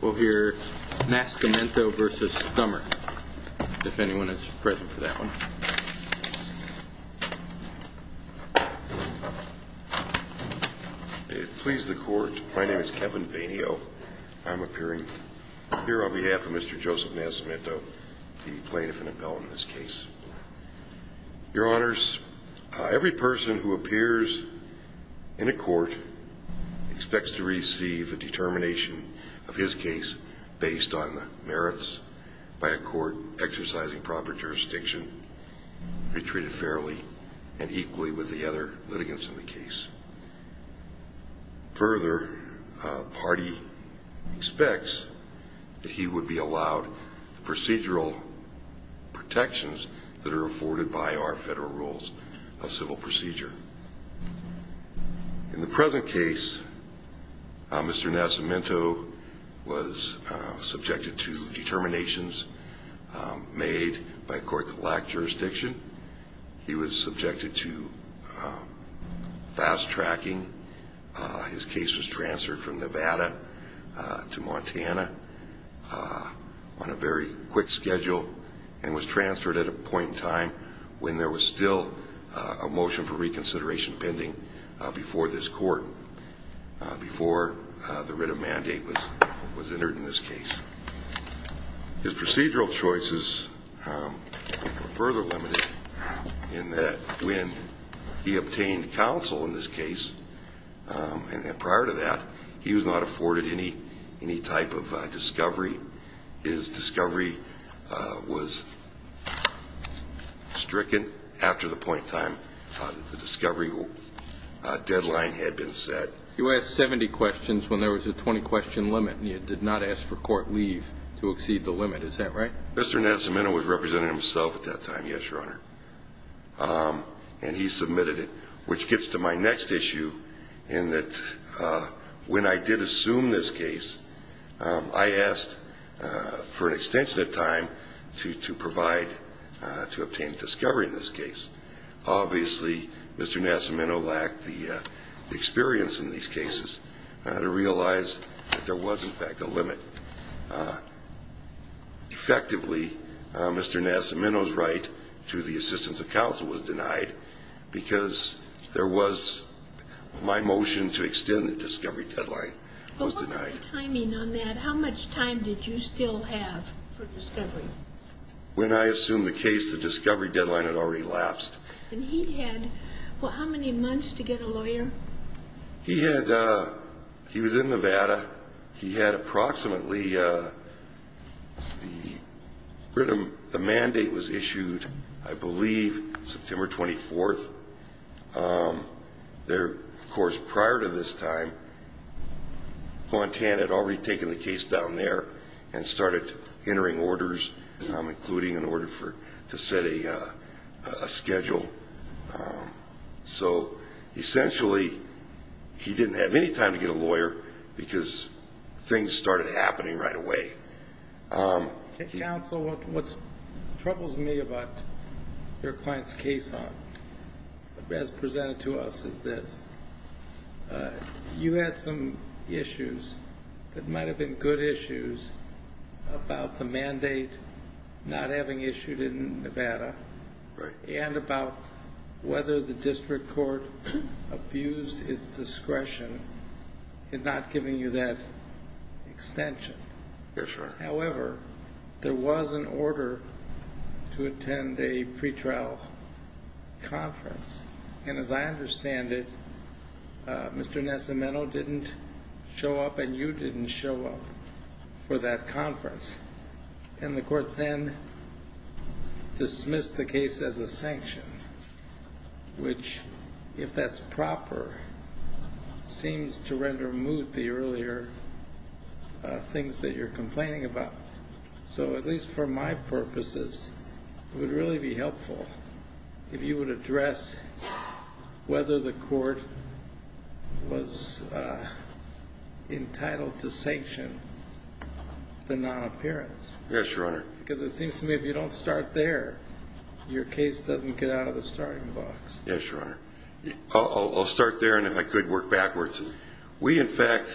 We'll hear Nascimento v. Dummer, if anyone is present for that one. It please the Court, my name is Kevin Vainio. I'm appearing here on behalf of Mr. Joseph Nascimento, the plaintiff-appellant in this case. Your Honors, every person who appears in a court expects to receive a determination of his case based on the merits by a court exercising proper jurisdiction to be treated fairly and equally with the other litigants in the case. Further, a party expects that he would be allowed procedural protections that are afforded by our federal rules of civil procedure. In the present case, Mr. Nascimento was subjected to determinations made by a court that lacked jurisdiction. He was subjected to fast tracking. His case was transferred from Nevada to Montana on a very quick schedule and was transferred at a point in time when there was still a motion for reconsideration pending before this court, before the writ of mandate was entered in this case. His procedural choices were further limited in that when he obtained counsel in this case, and prior to that, he was not afforded any type of discovery. His discovery was stricken after the point in time that the discovery deadline had been set. You asked 70 questions when there was a 20-question limit, and you did not ask for court leave to exceed the limit. Is that right? Mr. Nascimento was representing himself at that time, yes, Your Honor, and he submitted it, which gets to my next issue in that when I did assume this case, I asked for an extension of time to provide, to obtain discovery in this case. Obviously, Mr. Nascimento lacked the experience in these cases to realize that there was, in fact, a limit. Effectively, Mr. Nascimento's right to the assistance of counsel was denied because there was my motion to extend the discovery deadline was denied. What was the timing on that? How much time did you still have for discovery? When I assumed the case, the discovery deadline had already lapsed. And he had, well, how many months to get a lawyer? He was in Nevada. He had approximately, the mandate was issued, I believe, September 24th. There, of course, prior to this time, Quantan had already taken the case down there and started entering orders, including an order to set a schedule. So, essentially, he didn't have any time to get a lawyer because things started happening right away. Counsel, what troubles me about your client's case, as presented to us, is this. You had some issues that might have been good issues about the mandate not having issued in Nevada. Right. And about whether the district court abused its discretion in not giving you that extension. Yes, sir. However, there was an order to attend a pretrial conference. And as I understand it, Mr. Nesimino didn't show up and you didn't show up for that conference. And the court then dismissed the case as a sanction, which, if that's proper, seems to render moot the earlier things that you're complaining about. So, at least for my purposes, it would really be helpful if you would address whether the court was entitled to sanction the non-appearance. Yes, Your Honor. Because it seems to me if you don't start there, your case doesn't get out of the starting box. Yes, Your Honor. I'll start there and, if I could, work backwards. We, in fact,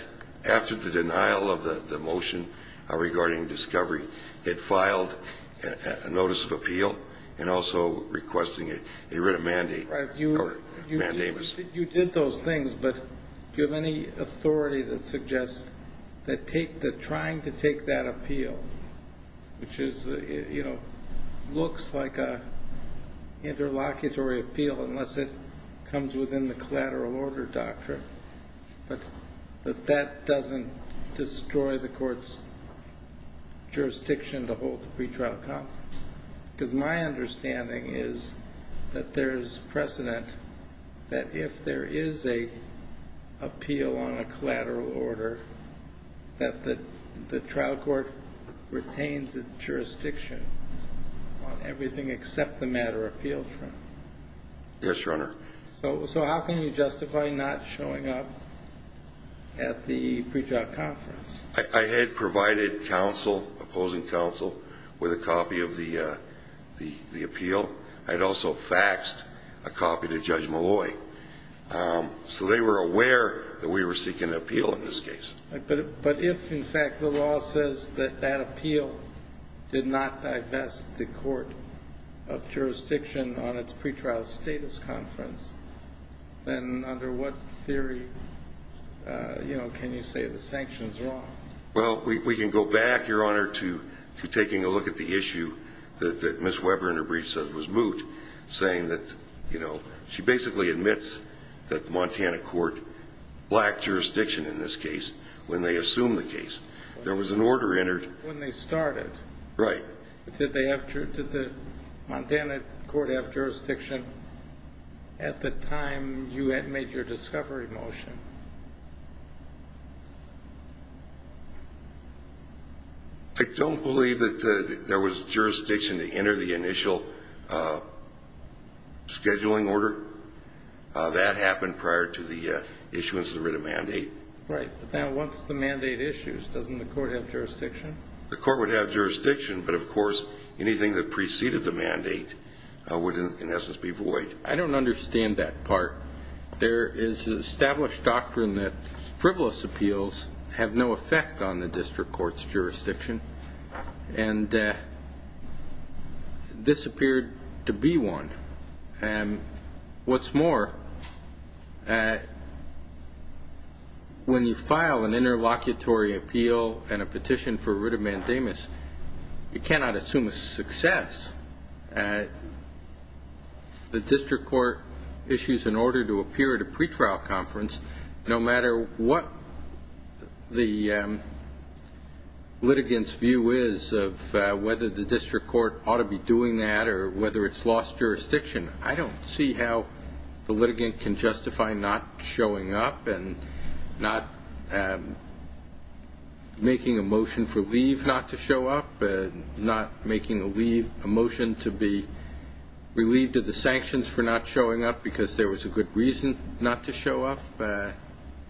after the denial of the motion regarding discovery, had filed a notice of appeal and also requesting a written mandate. Right. You did those things, but do you have any authority that suggests that trying to take that appeal, which is, you know, looks like an interlocutory appeal unless it comes within the collateral order doctrine, that that doesn't destroy the court's jurisdiction to hold the pretrial conference? Because my understanding is that there's precedent that if there is an appeal on a collateral order, that the trial court retains its jurisdiction on everything except the matter appealed from. Yes, Your Honor. So how can you justify not showing up at the pretrial conference? I had provided counsel, opposing counsel, with a copy of the appeal. I had also faxed a copy to Judge Malloy. So they were aware that we were seeking an appeal in this case. But if, in fact, the law says that that appeal did not divest the court of jurisdiction on its pretrial status conference, then under what theory, you know, can you say the sanction is wrong? Well, we can go back, Your Honor, to taking a look at the issue that Ms. Weber in her brief says was moot, saying that, you know, she basically admits that the Montana court lacked jurisdiction in this case when they assumed the case. There was an order entered. When they started. Right. Did the Montana court have jurisdiction at the time you had made your discovery motion? I don't believe that there was jurisdiction to enter the initial scheduling order. That happened prior to the issuance of the writ of mandate. Right. Now, once the mandate issues, doesn't the court have jurisdiction? The court would have jurisdiction. But, of course, anything that preceded the mandate would in essence be void. I don't understand that part. There is an established doctrine that frivolous appeals have no effect on the district court's jurisdiction. And this appeared to be one. What's more, when you file an interlocutory appeal and a petition for writ of mandamus, you cannot assume a success. The district court issues an order to appear at a pretrial conference, no matter what the litigant's view is of whether the district court ought to be doing that or whether it's lost jurisdiction. I don't see how the litigant can justify not showing up and not making a motion for leave not to show up, not making a motion to be relieved of the sanctions for not showing up because there was a good reason not to show up.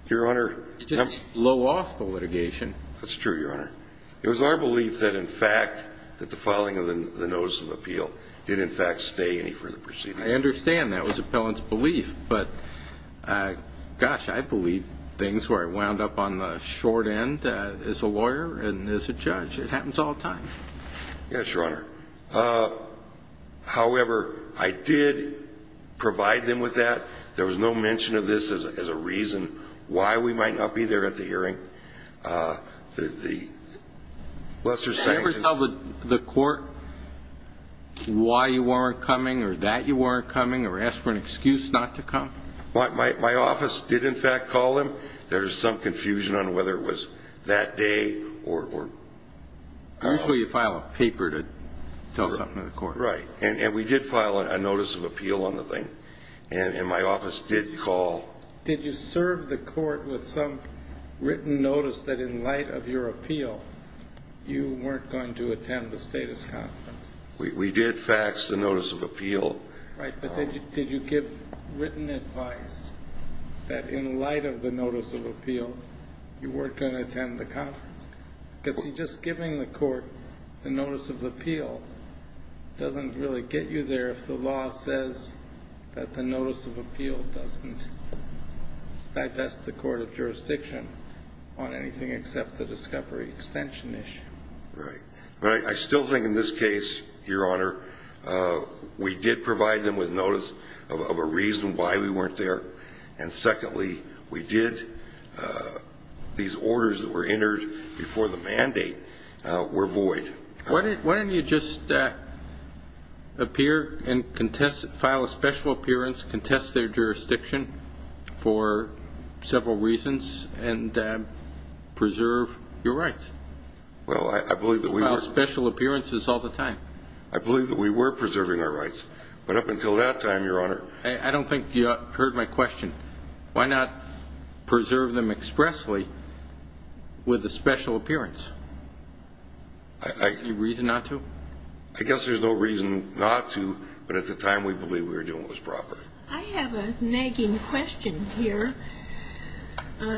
Your Honor. Just blow off the litigation. That's true, Your Honor. It was our belief that, in fact, that the filing of the notice of appeal did, in fact, stay any further proceedings. I understand that was appellant's belief. But, gosh, I believe things where I wound up on the short end as a lawyer and as a judge. It happens all the time. Yes, Your Honor. However, I did provide them with that. There was no mention of this as a reason why we might not be there at the hearing. The lesser sanctions. Did you ever tell the court why you weren't coming or that you weren't coming or ask for an excuse not to come? My office did, in fact, call them. There was some confusion on whether it was that day or... Usually you file a paper to tell something to the court. Right. And we did file a notice of appeal on the thing. And my office did call. Did you serve the court with some written notice that, in light of your appeal, you weren't going to attend the status conference? We did fax the notice of appeal. Right. But did you give written advice that, in light of the notice of appeal, you weren't going to attend the conference? Because, see, just giving the court the notice of appeal doesn't really get you there if the law says that the notice of appeal doesn't digest the court of jurisdiction on anything except the discovery extension issue. Right. But I still think in this case, Your Honor, we did provide them with notice of a reason why we weren't there. And, secondly, we did... these orders that were entered before the mandate were void. Why didn't you just appear and file a special appearance, contest their jurisdiction for several reasons, and preserve your rights? Well, I believe that we were... You file special appearances all the time. I believe that we were preserving our rights. I don't think you heard my question. Why not preserve them expressly with a special appearance? I... Any reason not to? I guess there's no reason not to, but at the time, we believed we were doing what was proper. I have a nagging question here.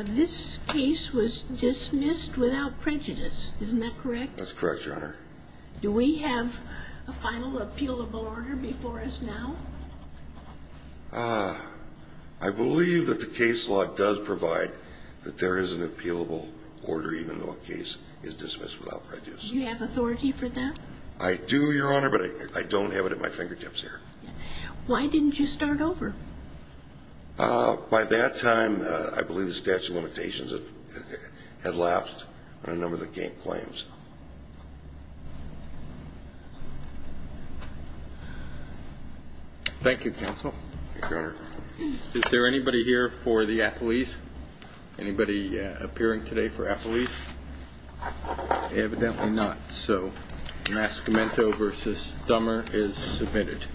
This case was dismissed without prejudice. Isn't that correct? That's correct, Your Honor. Do we have a final appealable order before us now? I believe that the case law does provide that there is an appealable order, even though a case is dismissed without prejudice. Do you have authority for that? I do, Your Honor, but I don't have it at my fingertips here. Why didn't you start over? By that time, I believe the statute of limitations had lapsed on a number of the claims. Thank you, Counsel. Thank you, Your Honor. Is there anybody here for the appellees? Anybody appearing today for appellees? Evidently not. So, Mascomento v. Dummer is submitted.